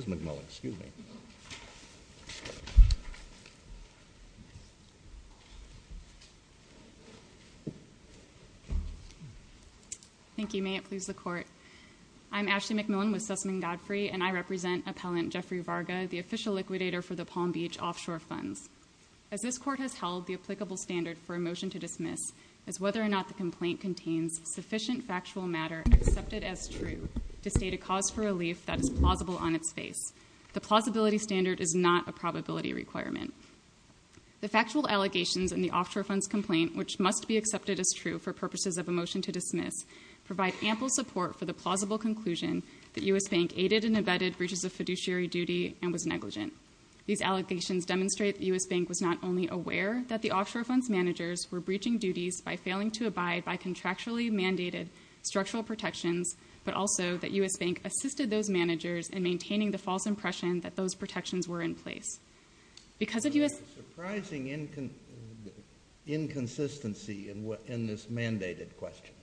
I'm Ashley McMillan with Sussman Godfrey, and I represent Appellant Jeffrey Varga, the official liquidator for the Palm Beach Offshore Funds. As this Court has held, the applicable standard for a motion to dismiss is whether or not the complaint contains sufficient factual matter accepted as true to state a cause for release. The plausibility standard is not a probability requirement. The factual allegations in the offshore funds complaint, which must be accepted as true for purposes of a motion to dismiss, provide ample support for the plausible conclusion that U.S. Bank aided and abetted breaches of fiduciary duty and was negligent. These allegations demonstrate that U.S. Bank was not only aware that the offshore funds managers were breaching duties by failing to abide by contractually mandated structural protections, but also that U.S. Bank assisted those managers in maintaining the false impression that those protections were in place. Because of U.S. There's a surprising inconsistency in this mandated question.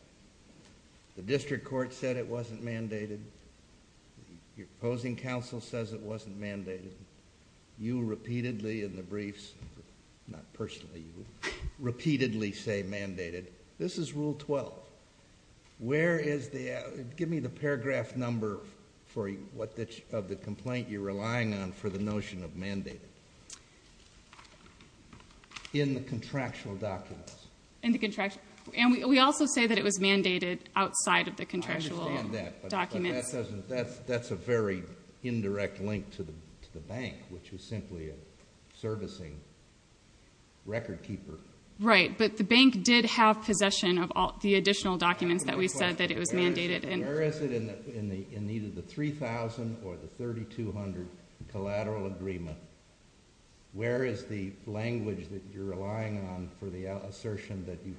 The district court said it wasn't mandated. Your opposing counsel says it wasn't mandated. You repeatedly in the briefs, not personally, you repeatedly say mandated. This is Rule 12. Where is the, give me the paragraph number of the complaint you're relying on for the notion of mandated. In the contractual documents. In the contractual. And we also say that it was mandated outside of the contractual documents. I understand that, but that's a very indirect link to the bank, which was simply a servicing record keeper. Right. Right. But the bank did have possession of all the additional documents that we said that it was mandated. Where is it in either the 3,000 or the 3,200 collateral agreement? Where is the language that you're relying on for the assertion that you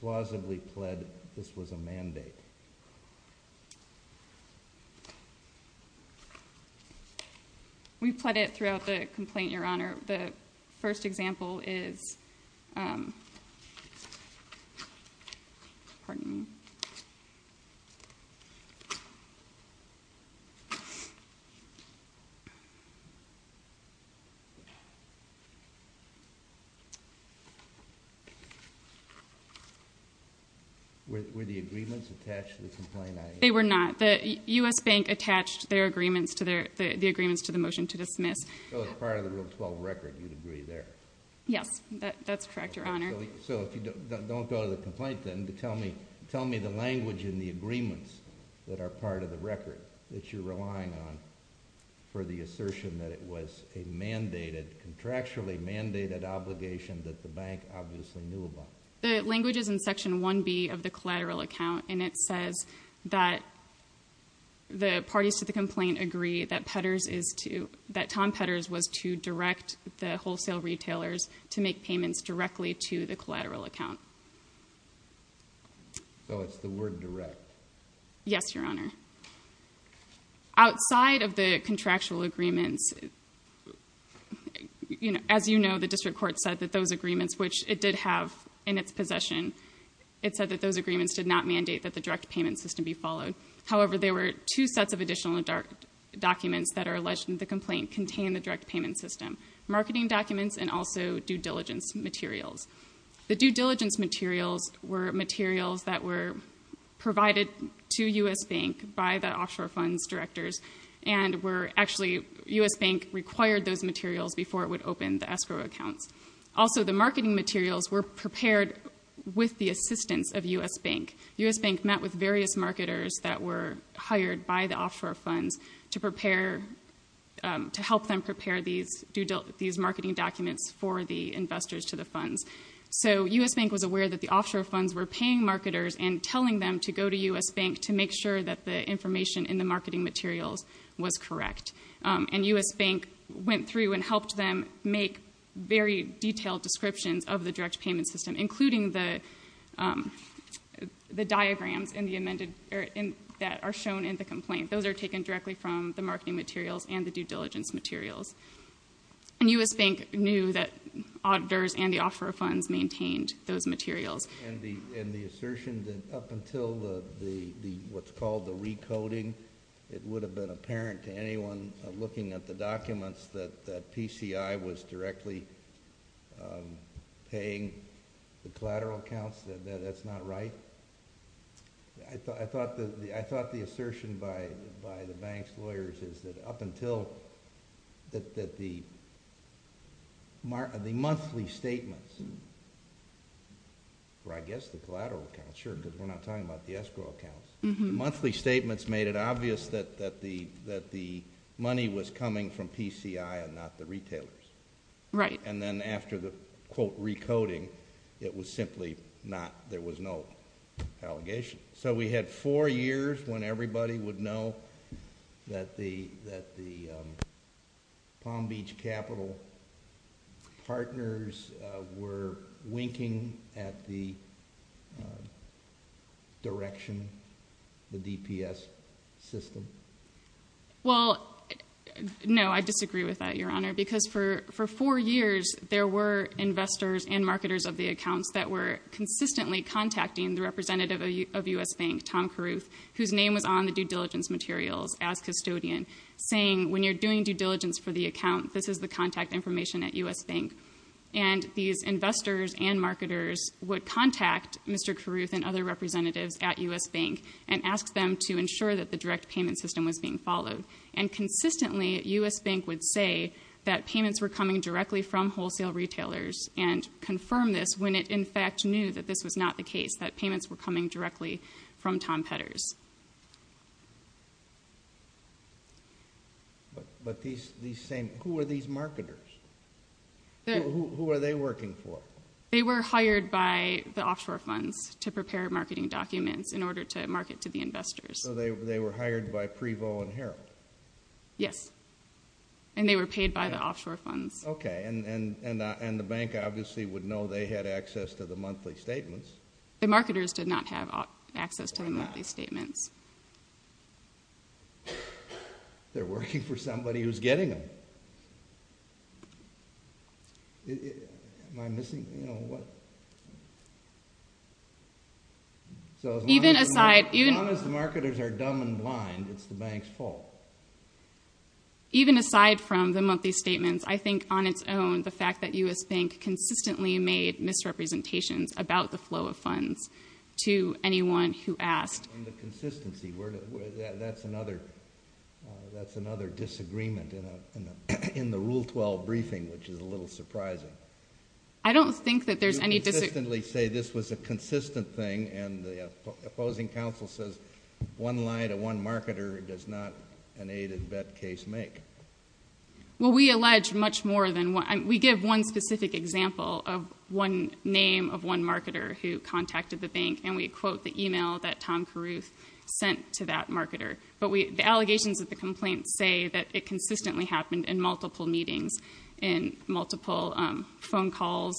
plausibly pled this was a mandate? We pled it throughout the complaint, Your Honor. The first example is, pardon me. Were the agreements attached to the complaint? They were not. The U.S. bank attached their agreements to their, the agreements to the motion to dismiss. So it's part of the Rule 12 record, you'd agree there. Yes. That's correct, Your Honor. So if you don't go to the complaint then, tell me the language in the agreements that are part of the record that you're relying on for the assertion that it was a mandated, contractually mandated obligation that the bank obviously knew about. The language is in Section 1B of the collateral account, and it says that the parties to the headers was to direct the wholesale retailers to make payments directly to the collateral account. So it's the word direct. Yes, Your Honor. Outside of the contractual agreements, as you know, the district court said that those agreements, which it did have in its possession, it said that those agreements did not mandate that the direct payment system be followed. The direct payment system contained the direct payment system, marketing documents, and also due diligence materials. The due diligence materials were materials that were provided to U.S. bank by the offshore funds directors, and were actually, U.S. bank required those materials before it would open the escrow accounts. Also, the marketing materials were prepared with the assistance of U.S. bank. U.S. bank met with various marketers that were hired by the offshore funds to prepare, to help them prepare these marketing documents for the investors to the funds. So U.S. bank was aware that the offshore funds were paying marketers and telling them to go to U.S. bank to make sure that the information in the marketing materials was correct. And U.S. bank went through and helped them make very detailed descriptions of the direct payment system, including the diagrams that are shown in the complaint. Those are taken directly from the marketing materials and the due diligence materials. And U.S. bank knew that auditors and the offshore funds maintained those materials. And the assertion that up until what's called the recoding, it would have been apparent to anyone looking at the documents that PCI was directly paying the collateral accounts that that's not right. I thought the assertion by the bank's lawyers is that up until the monthly statements, or I guess the collateral accounts, sure, because we're not talking about the escrow accounts. Monthly statements made it obvious that the money was coming from PCI and not the retailers. Right. And then after the quote recoding, it was simply not, there was no allegation. So we had four years when everybody would know that the Palm Beach Capital partners were winking at the direction, the DPS system. Well, no, I disagree with that, Your Honor. Because for four years, there were investors and marketers of the accounts that were consistently contacting the representative of U.S. bank, Tom Carruth, whose name was on the due diligence materials as custodian, saying, when you're doing due diligence for the account, this is the contact information at U.S. bank. And these investors and marketers would contact Mr. Carruth and other representatives at U.S. bank and ask them to ensure that the direct payment system was being followed. And consistently, U.S. bank would say that payments were coming directly from wholesale retailers and confirm this when it in fact knew that this was not the case, that payments were coming directly from Tom Petters. But these same, who are these marketers? Who are they working for? They were hired by the offshore funds to prepare marketing documents in order to market to the investors. So they were hired by Prevost and Harold? Yes. And they were paid by the offshore funds. Okay. And the bank obviously would know they had access to the monthly statements. The marketers did not have access to the monthly statements. They're working for somebody who's getting them. Am I missing, you know, what? So as long as the marketers are dumb and blind, it's the bank's fault. Even aside from the monthly statements, I think on its own, the fact that U.S. bank consistently made misrepresentations about the flow of funds to anyone who asked. And the consistency. That's another disagreement in the Rule 12 briefing, which is a little surprising. I don't think that there's any disagreement. You consistently say this was a consistent thing, and the opposing counsel says one lie to one marketer does not an aid-in-bet case make. Well, we allege much more than one. We give one specific example of one name of one marketer who contacted the bank. And we quote the email that Tom Carruth sent to that marketer. But the allegations of the complaint say that it consistently happened in multiple meetings, in multiple phone calls,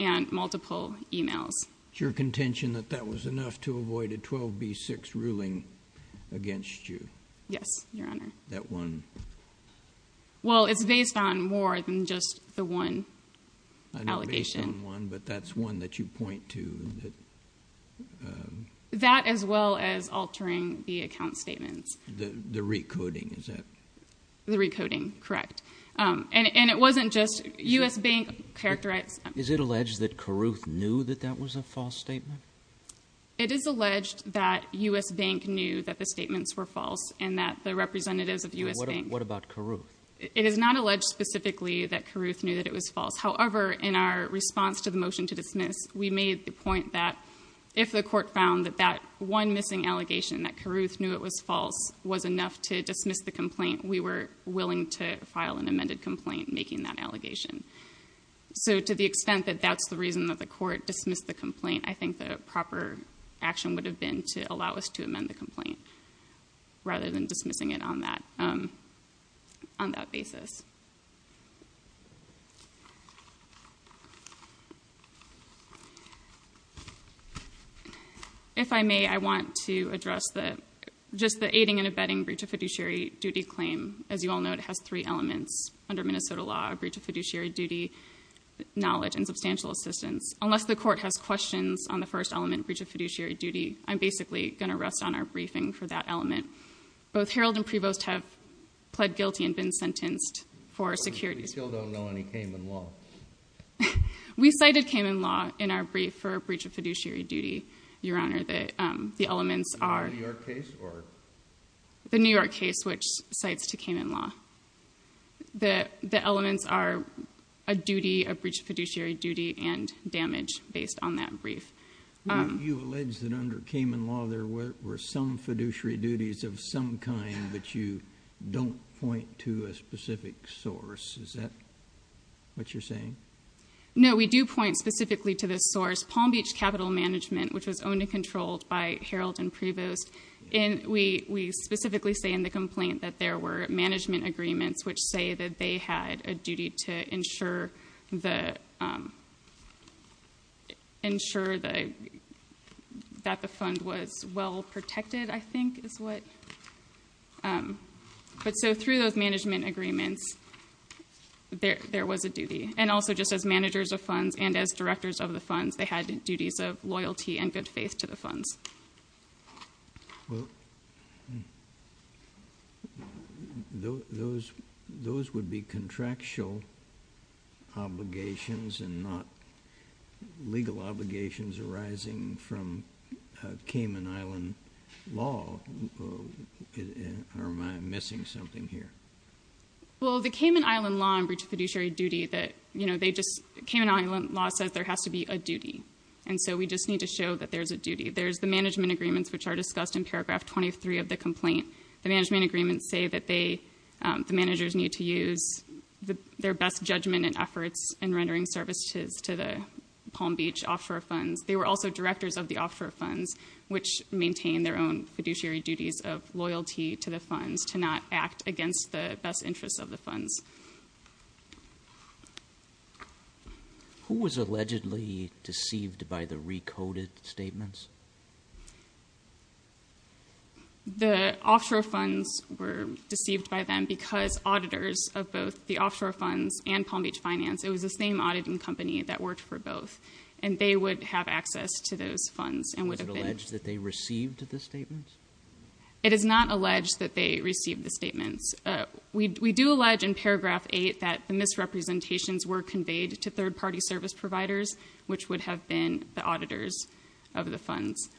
and multiple emails. It's your contention that that was enough to avoid a 12B6 ruling against you? Yes, Your Honor. That one? Well, it's based on more than just the one allegation. Not based on one, but that's one that you point to. That as well as altering the account statements. The recoding, is that? The recoding, correct. And it wasn't just U.S. bank characterized. Is it alleged that Carruth knew that that was a false statement? It is alleged that U.S. bank knew that the statements were false, and that the representatives of U.S. bank... What about Carruth? It is not alleged specifically that Carruth knew that it was false. However, in our response to the motion to dismiss, we made the point that if the court found that that one missing allegation, that Carruth knew it was false, was enough to dismiss the complaint, we were willing to file an amended complaint making that allegation. So to the extent that that's the reason that the court dismissed the complaint, I think the proper action would have been to allow us to amend the complaint, rather than dismissing it on that basis. If I may, I want to address just the aiding and abetting breach of fiduciary duty claim. As you all know, it has three elements. Under Minnesota law, a breach of fiduciary duty, knowledge, and substantial assistance. Unless the court has questions on the first element, breach of fiduciary duty, I'm basically going to rest on our briefing for that element. Both Harold and Prevost have pled guilty and been sentenced for securities... We still don't know any Cayman law. We cited Cayman law in our brief for breach of fiduciary duty, Your Honor. The elements are... The New York case, or... The New York case, which cites to Cayman law. The elements are a duty, a breach of fiduciary duty, and damage, based on that brief. You allege that under Cayman law, there were some fiduciary duties of some kind, but you don't point to a specific source. Is that what you're saying? No, we do point specifically to this source. Palm Beach Capital Management, which was owned and controlled by Harold and Prevost, we specifically say in the complaint that there were management agreements which say that they had a duty to ensure the... Ensure that the fund was well-protected, I think, is what... But so, through those management agreements, there was a duty. And also, just as managers of funds and as directors of the funds, they had duties of loyalty and good faith to the funds. Well... Those would be contractual obligations and not legal obligations arising from Cayman Island law. Or am I missing something here? Well, the Cayman Island law and breach of fiduciary duty, that, you know, they just... Cayman Island law says there has to be a duty. And so we just need to show that there's a duty. There's the management agreements, which are discussed in paragraph 23 of the complaint. The management agreements say that they... The managers need to use their best judgment and efforts in rendering services to the Palm Beach offshore funds. They were also directors of the offshore funds, which maintain their own fiduciary duties of loyalty to the funds, to not act against the best interests of the funds. Who was allegedly deceived by the recoded statements? The offshore funds were deceived by them because auditors of both the offshore funds and Palm Beach Finance, it was the same auditing company that worked for both, and they would have access to those funds and would have been... Was it alleged that they received the statements? It is not alleged that they received the statements. We do allege in paragraph 8 that the misrepresentations were conveyed to third-party service providers, which would have been the auditors of the funds.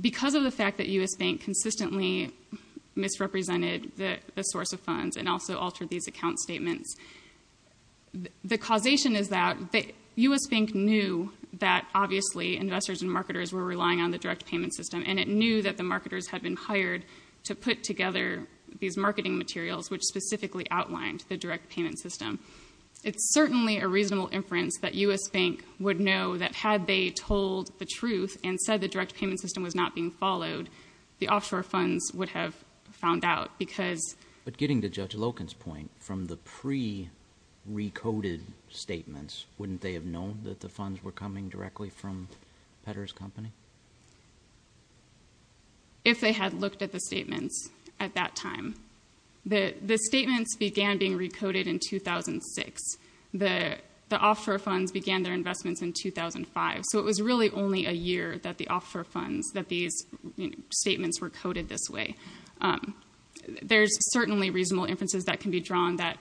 Because of the fact that U.S. Bank consistently misrepresented the source of funds and also altered these account statements, the causation is that U.S. Bank knew that, obviously, investors and marketers were relying on the direct payment system, and it knew that the marketers had been hired to put together these marketing materials, which specifically outlined the direct payment system. It's certainly a reasonable inference that U.S. Bank would know that had they told the truth and said the direct payment system was not being followed, the offshore funds would have found out, because... But getting to Judge Loken's point, from the pre-recoded statements, wouldn't they have known that the funds were coming directly from Petter's company? If they had looked at the statements at that time. The statements began being recoded in 2006. The offshore funds began their investments in 2005. So it was really only a year that the offshore funds, that these statements were coded this way. There's certainly reasonable inferences that can be drawn that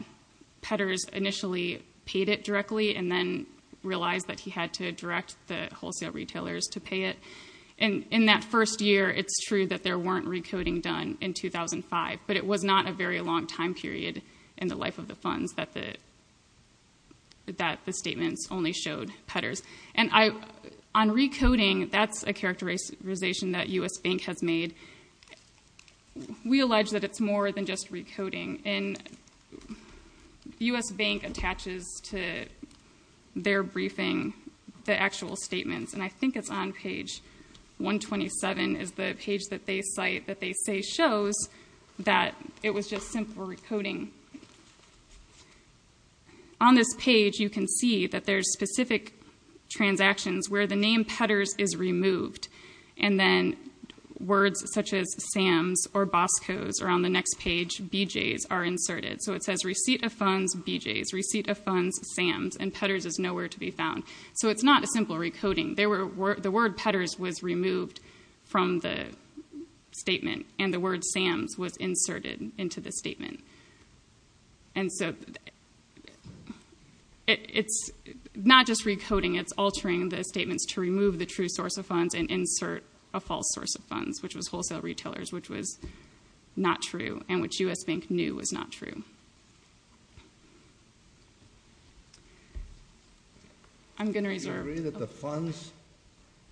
Petter's initially paid it directly and then realized that he had to direct the wholesale retailers to pay it. And in that first year, it's true that there weren't recoding done in 2005, but it was not a very long time period in the life of the funds that the statements only showed Petter's. And on recoding, that's a characterization that U.S. Bank has made. We allege that it's more than just recoding. And U.S. Bank attaches to their briefing the actual statements. And I think it's on page 127, is the page that they cite, that they say shows that it was just simple recoding. On this page, you can see that there's specific transactions where the name Petter's is removed, and then words such as Sam's or Bosco's are on the next page. BJ's are inserted. So it says, receipt of funds, BJ's. Receipt of funds, Sam's. And Petter's is nowhere to be found. So it's not a simple recoding. and the word Sam's was inserted into the statement. And so... It's not just recoding, it's altering the statements to remove the true source of funds and insert a false source of funds, which was wholesale retailers, which was not true, and which U.S. Bank knew was not true. I'm going to reserve... Do you agree that the funds,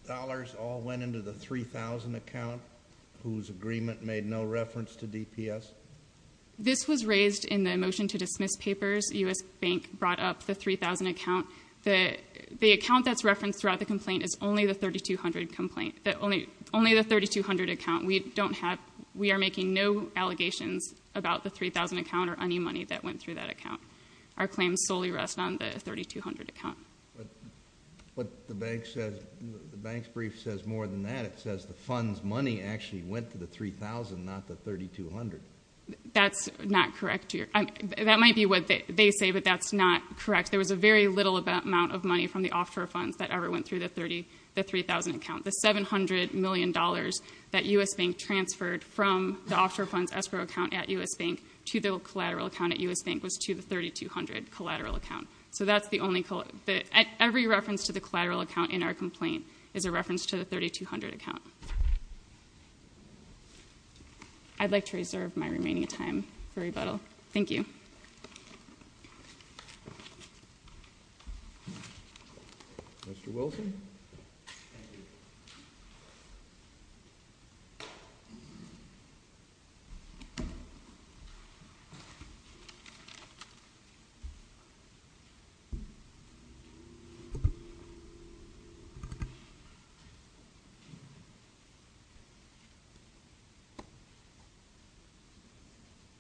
dollars, all went into the 3,000 account whose agreement made no reference to DPS? This was raised in the motion to dismiss papers. U.S. Bank brought up the 3,000 account. The account that's referenced throughout the complaint is only the 3,200 complaint. Only the 3,200 account. We are making no allegations about the 3,000 account or any money that went through that account. Our claims solely rest on the 3,200 account. But the bank's brief says more than that. It says the funds money actually went to the 3,000, not the 3,200. That's not correct. That might be what they say, but that's not correct. There was a very little amount of money from the offshore funds that ever went through the 3,000 account. The $700 million that U.S. Bank transferred from the offshore funds escrow account at U.S. Bank to the collateral account at U.S. Bank was to the 3,200 collateral account. So that's the only... Every reference to the collateral account in our complaint is a reference to the 3,200 account. I'd like to reserve my remaining time for rebuttal. Thank you. Mr. Wilson?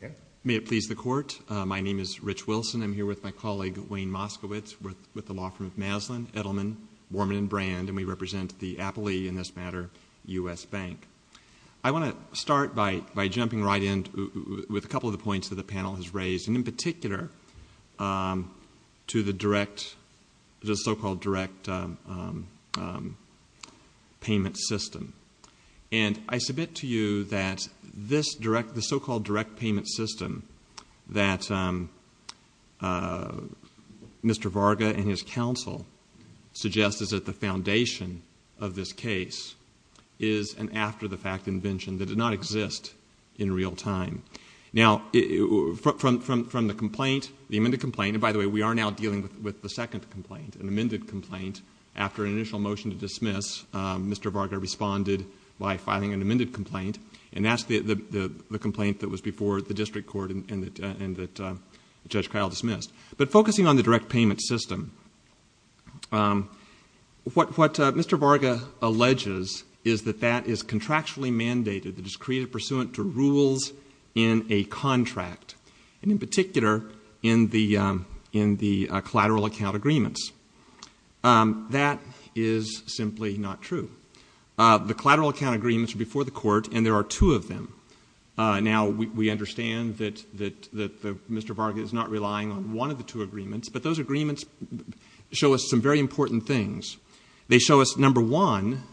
Yeah? May it please the Court? My name is Rich Wilson. I'm here with my colleague, Wayne Moskowitz, with the law firm of Maslin, Edelman, Warman & Brand, and we represent the Appley, in this matter, U.S. Bank. I want to start by jumping right in with a couple of the points that the panel has raised, and in particular to the direct... the so-called direct payment system. And I submit to you that this direct... the so-called direct payment system that Mr. Varga and his counsel suggest is at the foundation of this case is an after-the-fact invention that did not exist in real time. Now, from the complaint, the amended complaint... And by the way, we are now dealing with the second complaint, an amended complaint. After an initial motion to dismiss, Mr. Varga responded by filing an amended complaint and asked the complaint that was before the district court and that Judge Kyle dismissed. But focusing on the direct payment system, what Mr. Varga alleges is that that is contractually mandated, that it's created pursuant to rules in a contract, and in particular in the collateral account agreements. That is simply not true. The collateral account agreements are before the court, and there are two of them. Now, we understand that Mr. Varga is not relying on one of the two agreements, but those agreements show us some very important things. They show us, number one,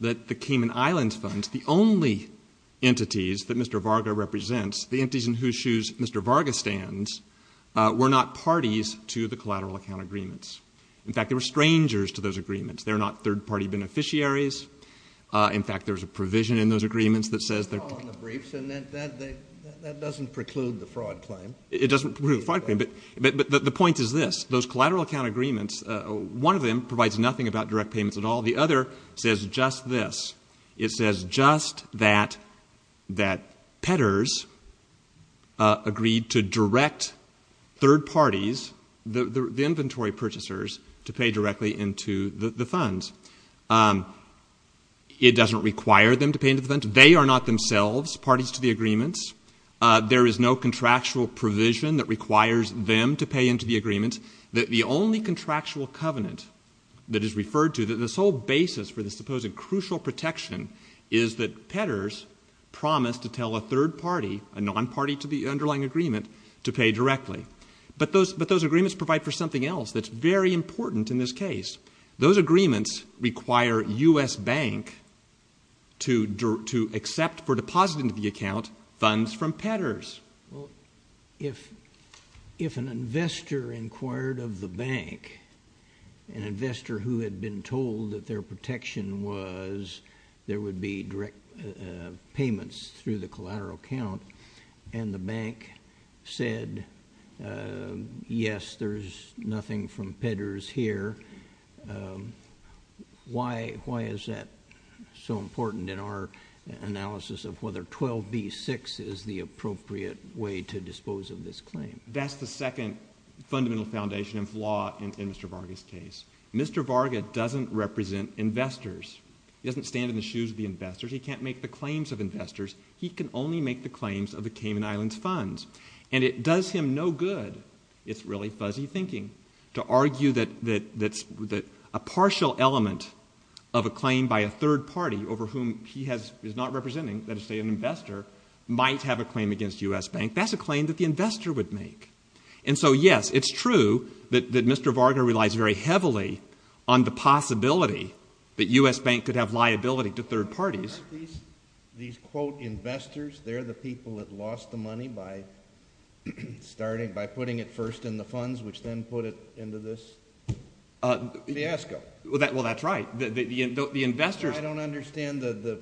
that the Cayman Islands funds, the only entities that Mr. Varga represents, the entities in whose shoes Mr. Varga stands, were not parties to the collateral account agreements. In fact, they were strangers to those agreements. They're not third-party beneficiaries. In fact, there's a provision in those agreements that says... ...on the briefs, and that doesn't preclude the fraud claim. It doesn't preclude the fraud claim, but the point is this. Those collateral account agreements, one of them provides nothing about direct payments at all. The other says just this. It says just that Petters agreed to direct third parties, the inventory purchasers, to pay directly into the funds. It doesn't require them to pay into the funds. They are not themselves parties to the agreements. There is no contractual provision that requires them to pay into the agreements. The only contractual covenant that is referred to, the sole basis for the supposed crucial protection, is that Petters promised to tell a third party, a non-party to the underlying agreement, to pay directly. But those agreements provide for something else that's very important in this case. Those agreements require U.S. Bank to accept for deposit into the account funds from Petters. Well, if an investor inquired of the bank, an investor who had been told that their protection was there would be direct payments through the collateral account, and the bank said, yes, there's nothing from Petters here, why is that so important in our analysis of whether 12b-6 is the appropriate way to dispose of this claim? That's the second fundamental foundation of law in Mr. Varga's case. Mr. Varga doesn't represent investors. He doesn't stand in the shoes of the investors. He can't make the claims of investors. He can only make the claims of the Cayman Islands funds. And it does him no good, it's really fuzzy thinking, to argue that a partial element of a claim by a third party, over whom he is not representing, let's say an investor, might have a claim against U.S. Bank. That's a claim that the investor would make. And so, yes, it's true that Mr. Varga relies very heavily on the possibility that U.S. Bank could have liability to third parties. Aren't these, quote, investors, they're the people that lost the money by putting it first in the funds, which then put it into this fiasco? Well, that's right. I don't understand the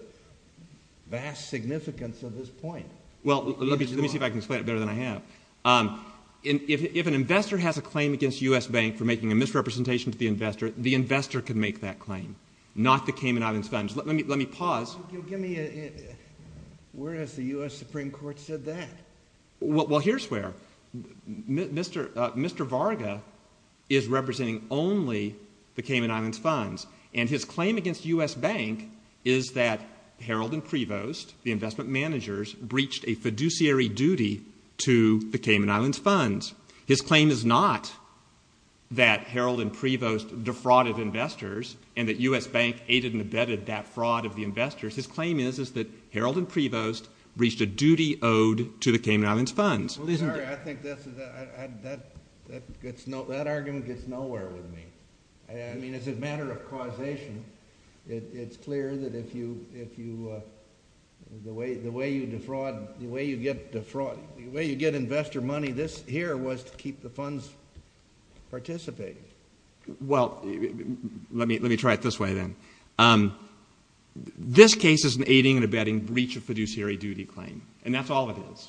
vast significance of this point. Well, let me see if I can explain it better than I have. If an investor has a claim against U.S. Bank for making a misrepresentation to the investor, the investor can make that claim, not the Cayman Islands funds. Let me pause. Give me a... Where has the U.S. Supreme Court said that? Well, here's where. Mr. Varga is representing only the Cayman Islands funds. And his claim against U.S. Bank is that Harold and Prevost, the investment managers, breached a fiduciary duty to the Cayman Islands funds. His claim is not that Harold and Prevost defrauded investors and that U.S. Bank aided and abetted that fraud of the investors. His claim is that Harold and Prevost breached a duty owed to the Cayman Islands funds. I think that argument gets nowhere with me. I mean, as a matter of causation, it's clear that if you... The way you defraud... The way you get investor money here was to keep the funds participating. Well, let me try it this way, then. This case is an aiding and abetting breach of fiduciary duty claim. And that's all it is.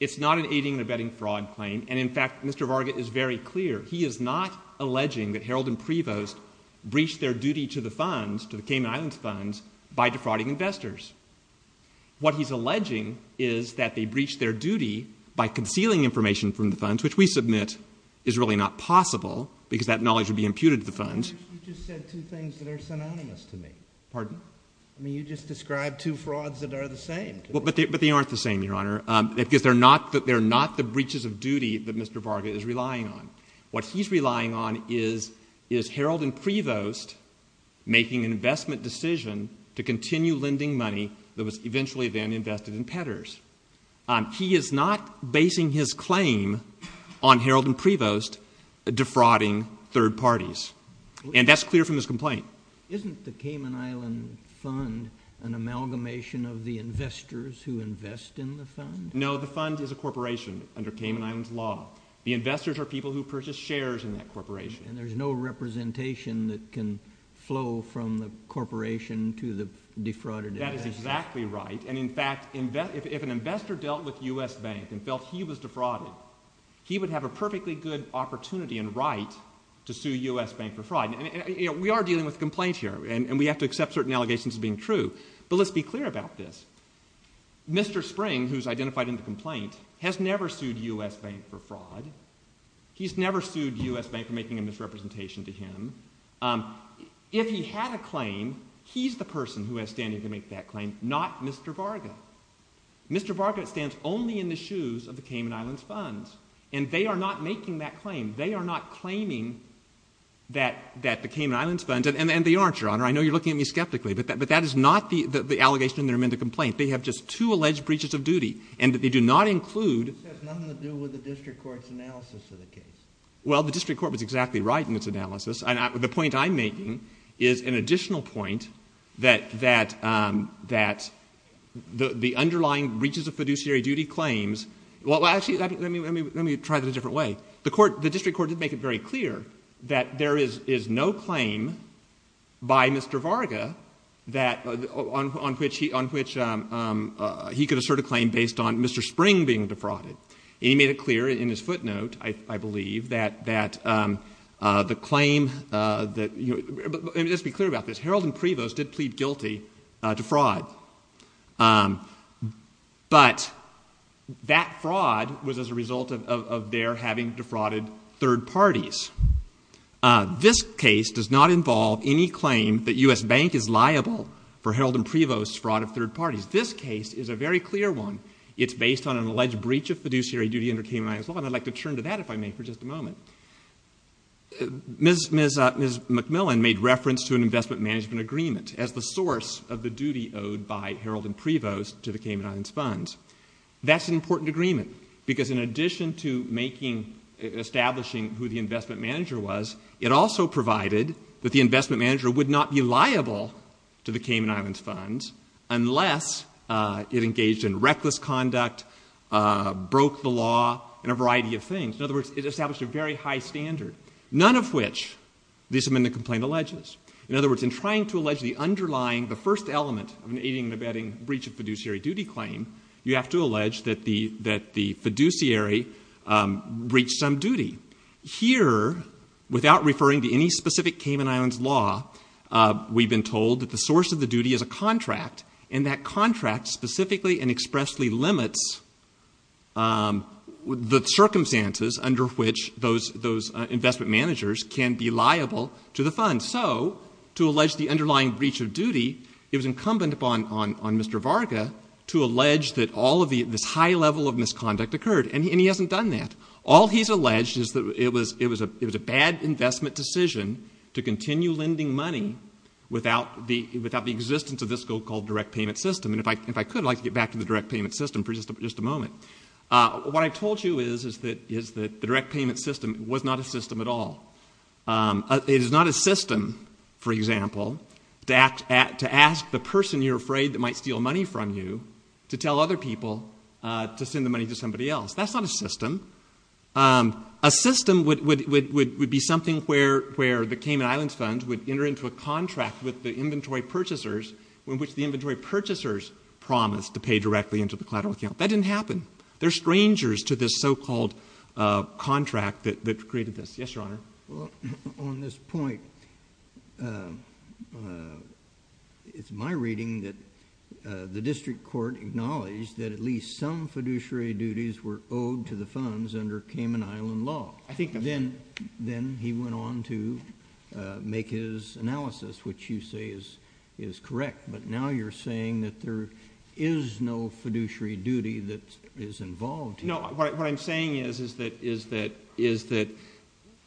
It's not an aiding and abetting fraud claim. And, in fact, Mr. Varga is very clear. He is not alleging that Harold and Prevost breached their duty to the Cayman Islands funds by defrauding investors. by concealing information from the funds, which we submit is really not possible because that knowledge would be imputed to the funds. You just said two things that are synonymous to me. Pardon? I mean, you just described two frauds that are the same. But they aren't the same, Your Honor. They're not the breaches of duty that Mr. Varga is relying on. What he's relying on is Harold and Prevost making an investment decision to continue lending money that was eventually then invested in Petters. He is not basing his claim on Harold and Prevost defrauding third parties. And that's clear from his complaint. Isn't the Cayman Islands fund an amalgamation of the investors who invest in the fund? No, the fund is a corporation under Cayman Islands law. The investors are people who purchase shares in that corporation. And there's no representation that can flow from the corporation to the defrauded investors? That is exactly right. And in fact, if an investor dealt with U.S. Bank and felt he was defrauded, he would have a perfectly good opportunity and right to sue U.S. Bank for fraud. We are dealing with a complaint here. And we have to accept certain allegations as being true. But let's be clear about this. Mr. Spring, who's identified in the complaint, has never sued U.S. Bank for fraud. He's never sued U.S. Bank for making a misrepresentation to him. If he had a claim, he's the person who has standing to make that claim, not Mr. Varga. Mr. Varga stands only in the shoes of the Cayman Islands funds. And they are not making that claim. They are not claiming that the Cayman Islands funds... And they aren't, Your Honor. I know you're looking at me skeptically. But that is not the allegation in their amended complaint. They have just two alleged breaches of duty. And they do not include... This has nothing to do with the District Court's analysis of the case. Well, the District Court was exactly right in its analysis. The point I'm making is an additional point that the underlying breaches of fiduciary duty claims... Well, actually, let me try it a different way. The District Court did make it very clear that there is no claim by Mr. Varga on which he could assert a claim based on Mr. Spring being defrauded. And he made it clear in his footnote, I believe, that the claim... Let's be clear about this. Harold and Prevost did plead guilty to fraud. But that fraud was as a result of their having defrauded third parties. This case does not involve any claim that U.S. Bank is liable for Harold and Prevost's fraud of third parties. This case is a very clear one. It's based on an alleged breach of fiduciary duty under Cayman Islands law. And I'd like to turn to that, if I may, for just a moment. Ms. McMillan made reference to an investment management agreement as the source of the duty owed by Harold and Prevost to the Cayman Islands funds. That's an important agreement, because in addition to establishing who the investment manager was, it also provided that the investment manager would not be liable to the Cayman Islands funds unless it engaged in reckless conduct, broke the law, and a variety of things. In other words, it established a very high standard, none of which this amendment complaint alleges. In other words, in trying to allege the underlying, the first element of an aiding and abetting breach of fiduciary duty claim, you have to allege that the fiduciary breached some duty. Here, without referring to any specific Cayman Islands law, we've been told that the source of the duty is a contract, and that contract specifically and expressly limits the circumstances under which those investment managers can be liable to the funds. So, to allege the underlying breach of duty, it was incumbent upon Mr. Varga to allege that all of this high level of misconduct occurred, and he hasn't done that. All he's alleged is that it was a bad investment decision to continue lending money without the existence of this so-called direct payment system. And if I could, I'd like to get back to the direct payment system for just a moment. What I've told you is that the direct payment system was not a system at all. It is not a system, for example, to ask the person you're afraid that might steal money from you to tell other people to send the money to somebody else. That's not a system. A system would be would enter into a contract with the inventory purchasers, in which the inventory purchasers promised to pay directly into the collateral account. That didn't happen. They're strangers to this so-called contract that created this. Yes, Your Honor. On this point, it's my reading that the District Court acknowledged that at least some fiduciary duties were owed to the funds under Cayman Island law. Then he went on to make his analysis, which you say is correct, but now you're saying that there is no fiduciary duty that is involved. What I'm saying is that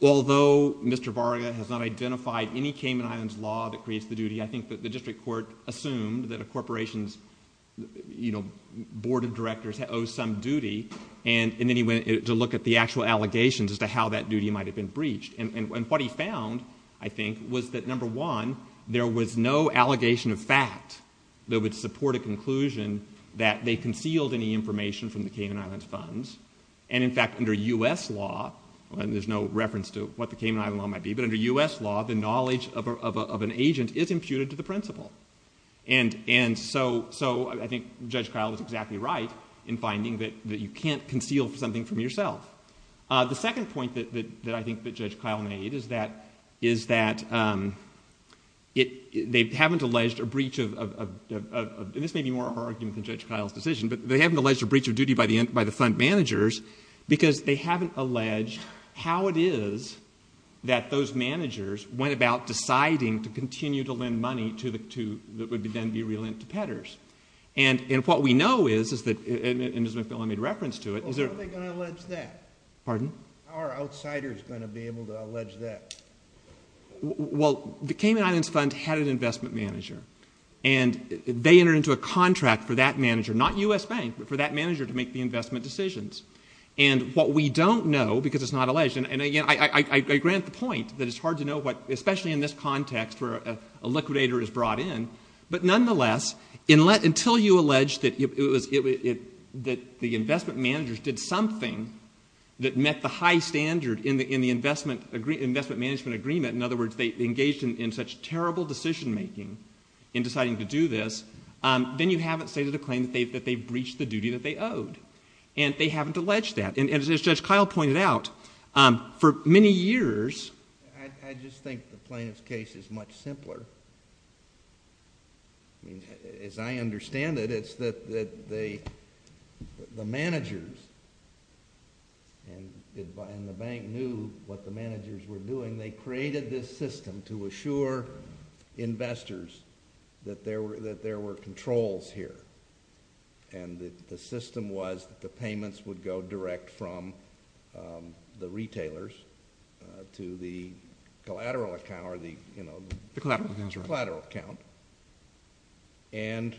although Mr. Varga has not identified any Cayman Island's law that creates the duty, I think that the District Court assumed that a corporation's board of directors owes some duty, and then he went to look at the actual allegations as to how that duty might have been breached. What he found, I think, was that number one, there was no allegation of fact that would support a conclusion that they concealed any information from the Cayman Island's funds. In fact, under U.S. law, and there's no reference to what the Cayman Island law might be, but under U.S. law, the knowledge of an agent is imputed to the principal. I think Judge Kyle was exactly right in finding that you can't conceal something from yourself. The second point that I think that Judge Kyle made is that they haven't alleged a breach of and this may be more of an argument than Judge Kyle's decision, but they haven't alleged a breach of duty by the fund managers because they haven't alleged how it is that those managers went about deciding to continue to lend money to the two that would then be relent to pedders. And what we know is, and Mr. McMillan made reference to it, Well, how are they going to allege that? Pardon? How are outsiders going to be able to Well, the Cayman Islands Fund had an investment manager, and they entered into a contract for that manager, not U.S. Bank, but for that manager to make the investment decisions. And what we don't know, because it's not alleged, and again, I grant the point that it's hard to know what, especially in this context, where a liquidator is brought in, but nonetheless, until you allege that the investment managers did something that met the high standard in the investment management agreement, in other words, they engaged in such terrible decision making in deciding to do this, then you haven't stated a claim that they breached the duty that they owed. And they haven't alleged that. And as Judge Kyle pointed out, for many years, I just think the plaintiff's case is much simpler. As I understand it, it's that the managers and the bank knew what the managers were doing. They created this system to assure investors that there were controls here. And the system was the payments would go direct from the retailers to the collateral account, or the collateral account. And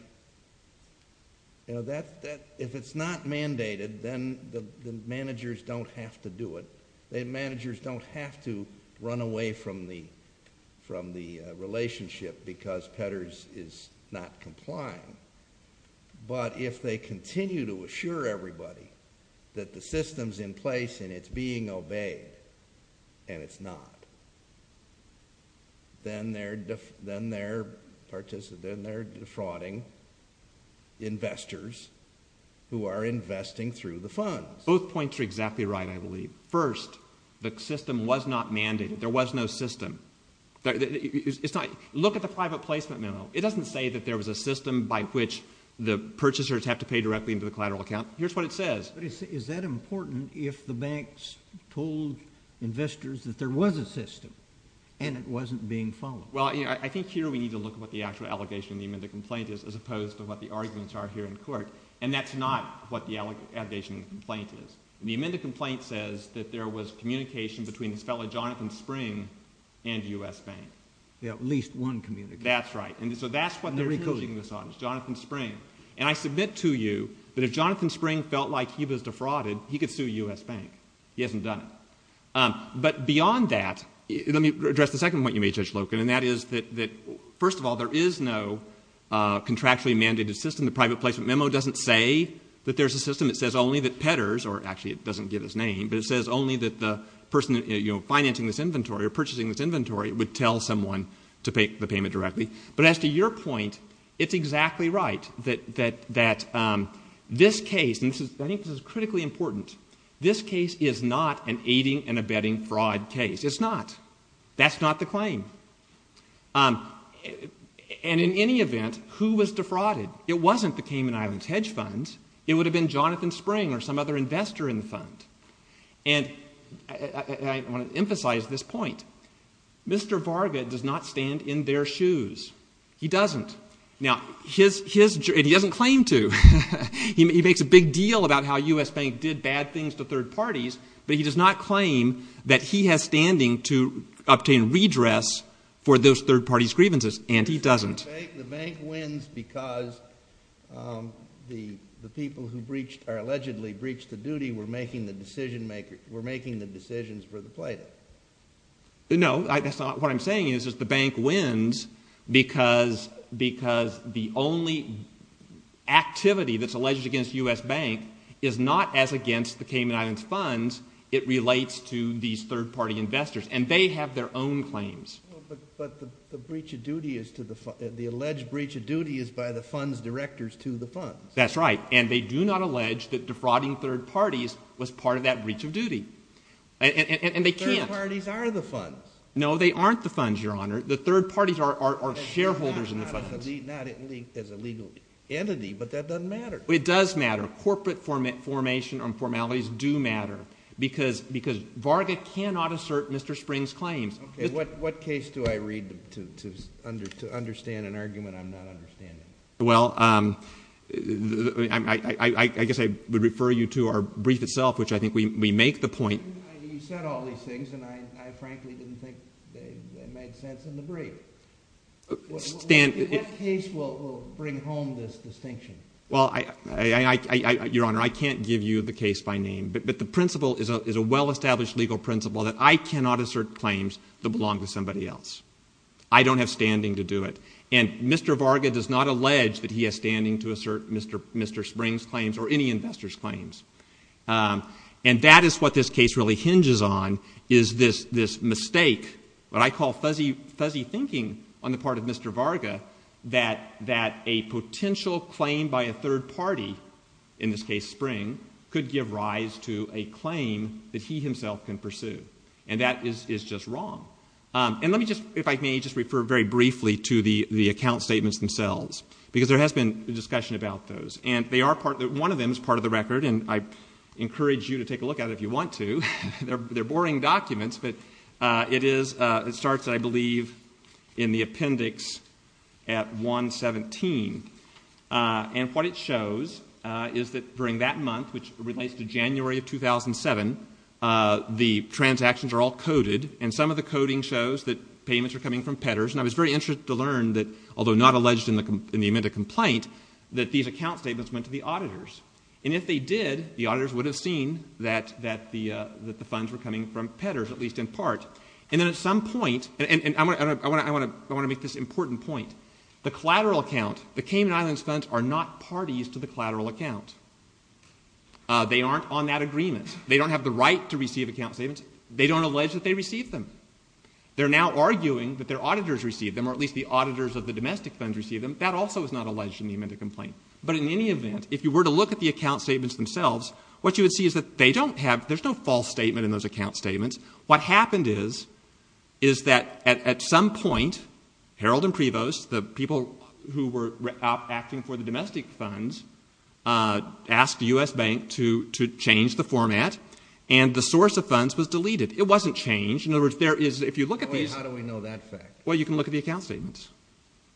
if it's not mandated, then the managers don't have to do it. The managers don't have to run away from the relationship because Pedders is not complying. But if they continue to assure everybody that the system's in place and it's being obeyed, and it's not, then they're defrauding investors who are investing through the funds. Both points are exactly right, I believe. First, the system was not mandated. There was no system. Look at the private placement memo. It doesn't say that there was a system by which the purchasers have to pay directly into the collateral account. Here's what it says. Is that important if the banks told investors that there was a system and it wasn't being followed? Well, I think here we need to look at what the actual allegation in the amended complaint is as opposed to what the arguments are here in court. And that's not what the allegation in the complaint is. The amended complaint says that there was communication between his fellow, Jonathan Spring, and U.S. Bank. At least one communicator. That's right. So that's what they're charging this on, is Jonathan Spring. And I submit to you that if Jonathan Spring felt like he was defrauded, he could sue U.S. Bank. He hasn't done it. But beyond that, let me address the second point you made, Judge Loken, and that is that, first of all, there is no contractually mandated system. The private placement memo doesn't say that there's a system. It says only that Pedders, or actually it doesn't give his name, but it says only that the person financing this inventory or purchasing this inventory would tell someone to pay the payment directly. But as to your point, it's exactly right that this case, and I think this is critically important, this case is not an aiding and abetting fraud case. It's not. That's not the claim. And in any event, who was defrauded? It wasn't the Cayman Islands Hedge Fund. It would have been Jonathan Spring or some other investor in the fund. And I want to emphasize this point. Mr. Varga does not stand in their shoes. He doesn't. Now, he doesn't claim to. He makes a big deal about how U.S. Bank did bad things to third parties, but he does not claim that he has standing to obtain redress for those third parties' grievances. And he doesn't. The bank wins because the people who breached or allegedly breached the duty were making the decision for the play. No, that's not what I'm saying. It's just the bank wins because the only activity that's alleged against U.S. Bank is not as against the Cayman Islands funds. It relates to these third party investors, and they have their own claims. But the alleged breach of duty is by the fund's directors to the funds. That's right. And they do not allege that defrauding third parties was part of that breach of duty. And they can't. Third parties are the funds. No, they aren't the funds, Your Honor. The third parties are shareholders in the funds. Not as a legal entity, but that doesn't matter. It does matter. Corporate formation and formalities do matter. Because Varga cannot assert Mr. Spring's claims. What case do I read to understand an argument I'm not understanding? Well, I guess I would refer you to our brief itself, which I think we make the point. You said all these things, and I frankly didn't think they made sense in the brief. What case will bring home this distinction? Well, Your Honor, I can't give you the case by name, but the principle is a well-established legal principle that I cannot assert claims that belong to somebody else. I don't have standing to do it. And Mr. Varga does not allege that he has standing to assert Mr. Spring's claims or any investor's claims. And that is what this case really hinges on, is this mistake, what I call fuzzy thinking on the part of Mr. Varga, that a potential claim by a third party, in this case Spring, could give rise to a claim that he himself can pursue. And that is just wrong. And let me just, if I may, just refer very briefly to the account statements themselves, because there has been discussion about those. One of them is part of the record, and I encourage you to take a look at it if you want to. They're boring documents, but it starts, I believe, in the appendix at 117. And what it shows is that during that month, which relates to January of 2007, the transactions are all coded, and some of the coding shows that payments are coming from pedders. And I was very interested to learn that, although not alleged in the amendment of complaint, that these account statements went to the auditors. And if they did, the auditors would have seen that the funds were coming from pedders, at least in part. And then at some point, and I want to make this important point. The collateral account, the Cayman Islands funds are not parties to the collateral account. They aren't on that agreement. They don't have the right to receive account statements. They don't allege that they received them. They're now arguing that their auditors received them, or at least the auditors of the domestic funds received them. That also is not alleged in the amendment of complaint. But in any event, if you were to look at the account statements themselves, what you would see is that they don't have, there's no false statement in those account statements. What happened is is that at some point, Harold and Prevost, the people who were acting for the domestic funds, asked the U.S. Bank to change the format, and the source of funds was deleted. It wasn't changed. In other words, there is, if you look at these How do we know that fact? Well, you can look at the account statements.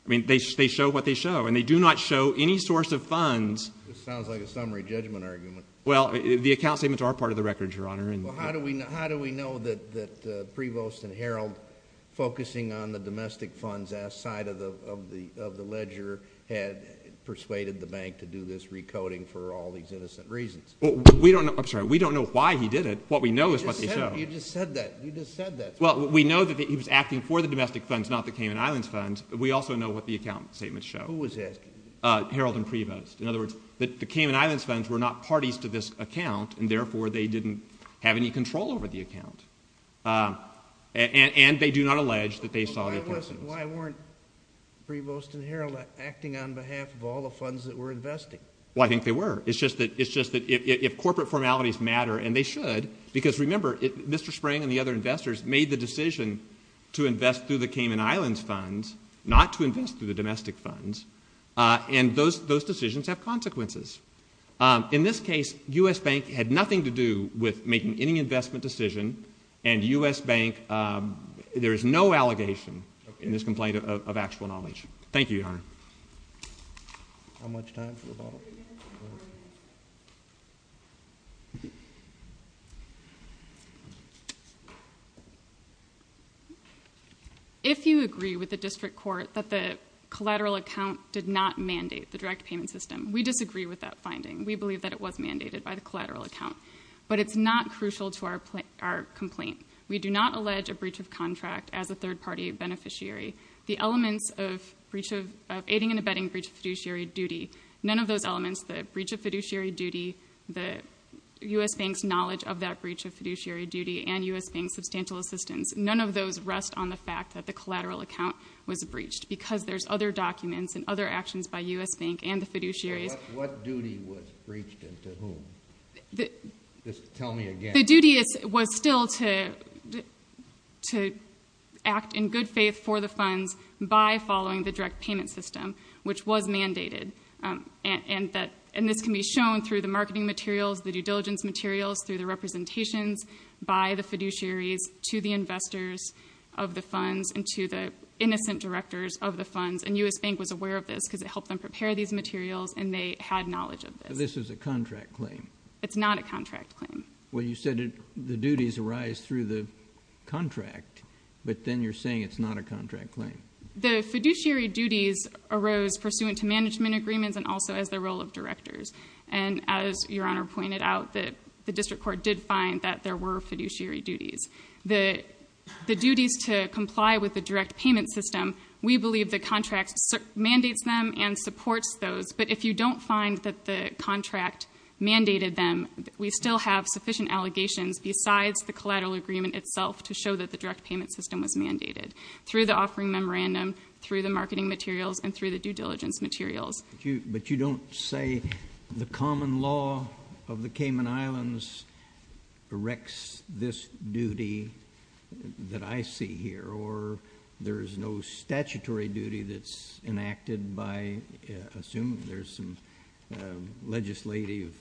I mean, they show what they show. And they do not show any source of funds. This sounds like a summary judgment argument. Well, the account statements are part of the record, Your Honor. Well, how do we know that Prevost and Harold, focusing on the domestic funds side of the ledger, had persuaded the bank to do this recoding for all these innocent reasons? I'm sorry. We don't know why he did it. What we know is what they show. You just said that. You just said that. Well, we know that he was acting for the domestic funds, not the Cayman Islands funds. We also know what the account statements show. Who was asking? Harold and Prevost. In other words, the Cayman Islands funds were not parties to this account, and therefore they didn't have any control over the investments. And they do not allege that they saw the accounts. Why weren't Prevost and Harold acting on behalf of all the funds that were investing? Well, I think they were. It's just that if corporate formalities matter, and they should, because remember, Mr. Spring and the other investors made the decision to invest through the Cayman Islands funds, not to invest through the domestic funds, and those decisions have consequences. In this case, U.S. Bank had nothing to do with making any investment decision, and U.S. Bank, there is no allegation in this complaint of actual knowledge. Thank you, Your Honor. How much time do we have? If you agree with the district court that the collateral account did not mandate the direct payment system, we disagree with that finding. We believe that it was mandated by the district court, and it is crucial to our complaint. We do not allege a breach of contract as a third-party beneficiary. The elements of aiding and abetting breach of fiduciary duty, none of those elements, the breach of fiduciary duty, the U.S. Bank's knowledge of that breach of fiduciary duty, and U.S. Bank's substantial assistance, none of those rest on the fact that the collateral account was breached, because there's other documents and other actions by U.S. Bank and the fiduciaries. What duty was The duty was still to act in good faith for the funds by following the direct payment system, which was mandated, and this can be shown through the marketing materials, the due diligence materials, through the representations by the fiduciaries to the investors of the funds and to the innocent directors of the funds, and U.S. Bank was aware of this because it helped them prepare these materials, and they had knowledge of this. This is a contract claim. It's not a contract claim. Well, you said the duties arise through the contract, but then you're saying it's not a contract claim. The fiduciary duties arose pursuant to management agreements and also as the role of directors, and as Your Honor pointed out, the district court did find that there were fiduciary duties. The duties to comply with the direct payment system, we believe the contract mandates them and supports those, but if you don't find that the contract mandated them, we still have sufficient allegations besides the collateral agreement itself to show that the direct payment system was mandated through the offering memorandum, through the marketing materials, and through the due diligence materials. But you don't say the common law of the Cayman Islands erects this duty that I see here, or there's no statutory duty that's enacted by I assume there's some legislative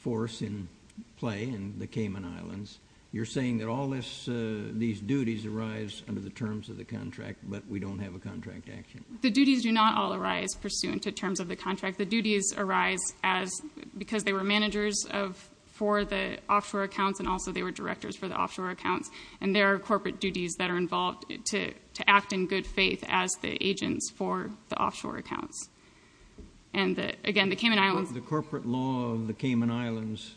force in play in the Cayman Islands. You're saying that all this, these duties arise under the terms of the contract, but we don't have a contract action. The duties do not all arise pursuant to terms of the contract. The duties arise as, because they were managers of, for the offshore accounts, and also they were directors for the offshore accounts, and there are corporate duties that are involved to act in good faith as the agents for the offshore accounts. And again, the Cayman Islands... The corporate law of the Cayman Islands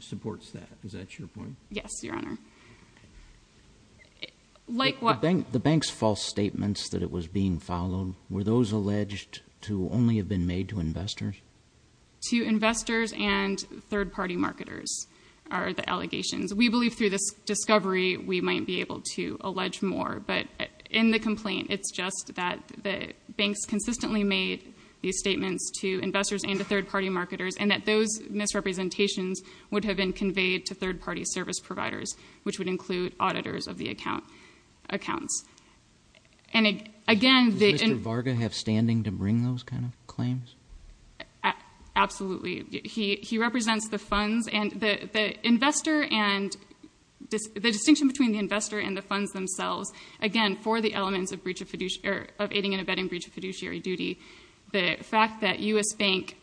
supports that. Is that your point? Yes, Your Honor. The bank's false statements that it was being followed, were those alleged to only have been made to investors? To investors and third-party marketers are the allegations. We believe through this discovery, we might be able to allege more, but in the complaint, it's just that the banks consistently made these statements to investors and to third-party marketers, and that those misrepresentations would have been conveyed to third-party service providers, which would include auditors of the accounts. And again... Does Mr. Varga have standing to bring those kind of claims? Absolutely. He represents the funds, and the investor and the distinction between the investor and the funds themselves, again, for the elements of aiding and abetting breach of fiduciary duty, the fact that U.S. Bank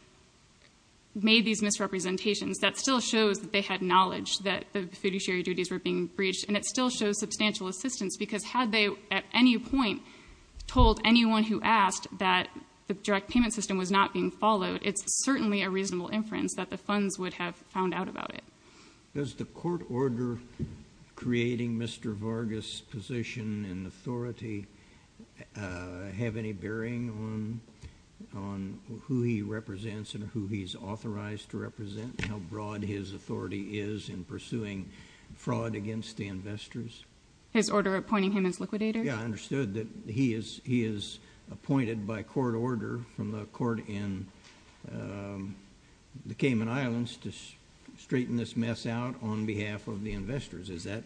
made these misrepresentations, that still shows that they had knowledge that the fiduciary duties were being breached, and it still shows substantial assistance because had they at any point told anyone who asked that the direct payment system was not being followed, it's certainly a reasonable inference that the funds would have found out about it. Does the court order creating Mr. Varga's position and authority have any bearing on who he represents and who he's authorized to represent and how broad his authority is in pursuing fraud against the investors? His order appointing him as liquidator? Yeah, I understood that he is appointed by court order from the court in the Cayman Islands to straighten this mess out on behalf of the investors. Is that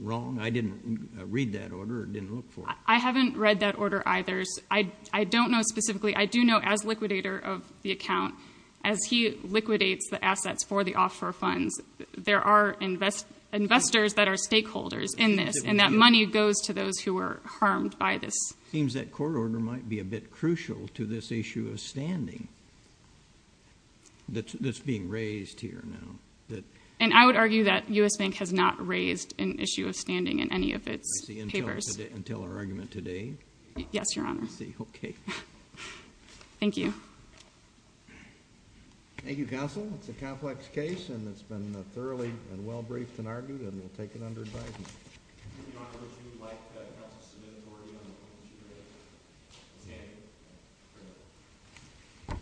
wrong? I didn't read that order or didn't look for it. I haven't read that order either. I don't know specifically. I do know as liquidator of the account, as he liquidates the assets for the offer funds, there are investors that are stakeholders in this, and that money goes to those who were harmed by this. Seems that court order might be a bit crucial to this issue of standing. That's being raised here now. And I would argue that U.S. Bank has not raised an issue of standing in any of its papers. I see. Until our argument today? Yes, Your Honor. I see. Okay. Thank you. Thank you, Counsel. It's a complex case, and it's been thoroughly and well-briefed and argued, and we'll take it under advisement. Your Honor, would you like counsel to submit the order? Is it handy? Thank you.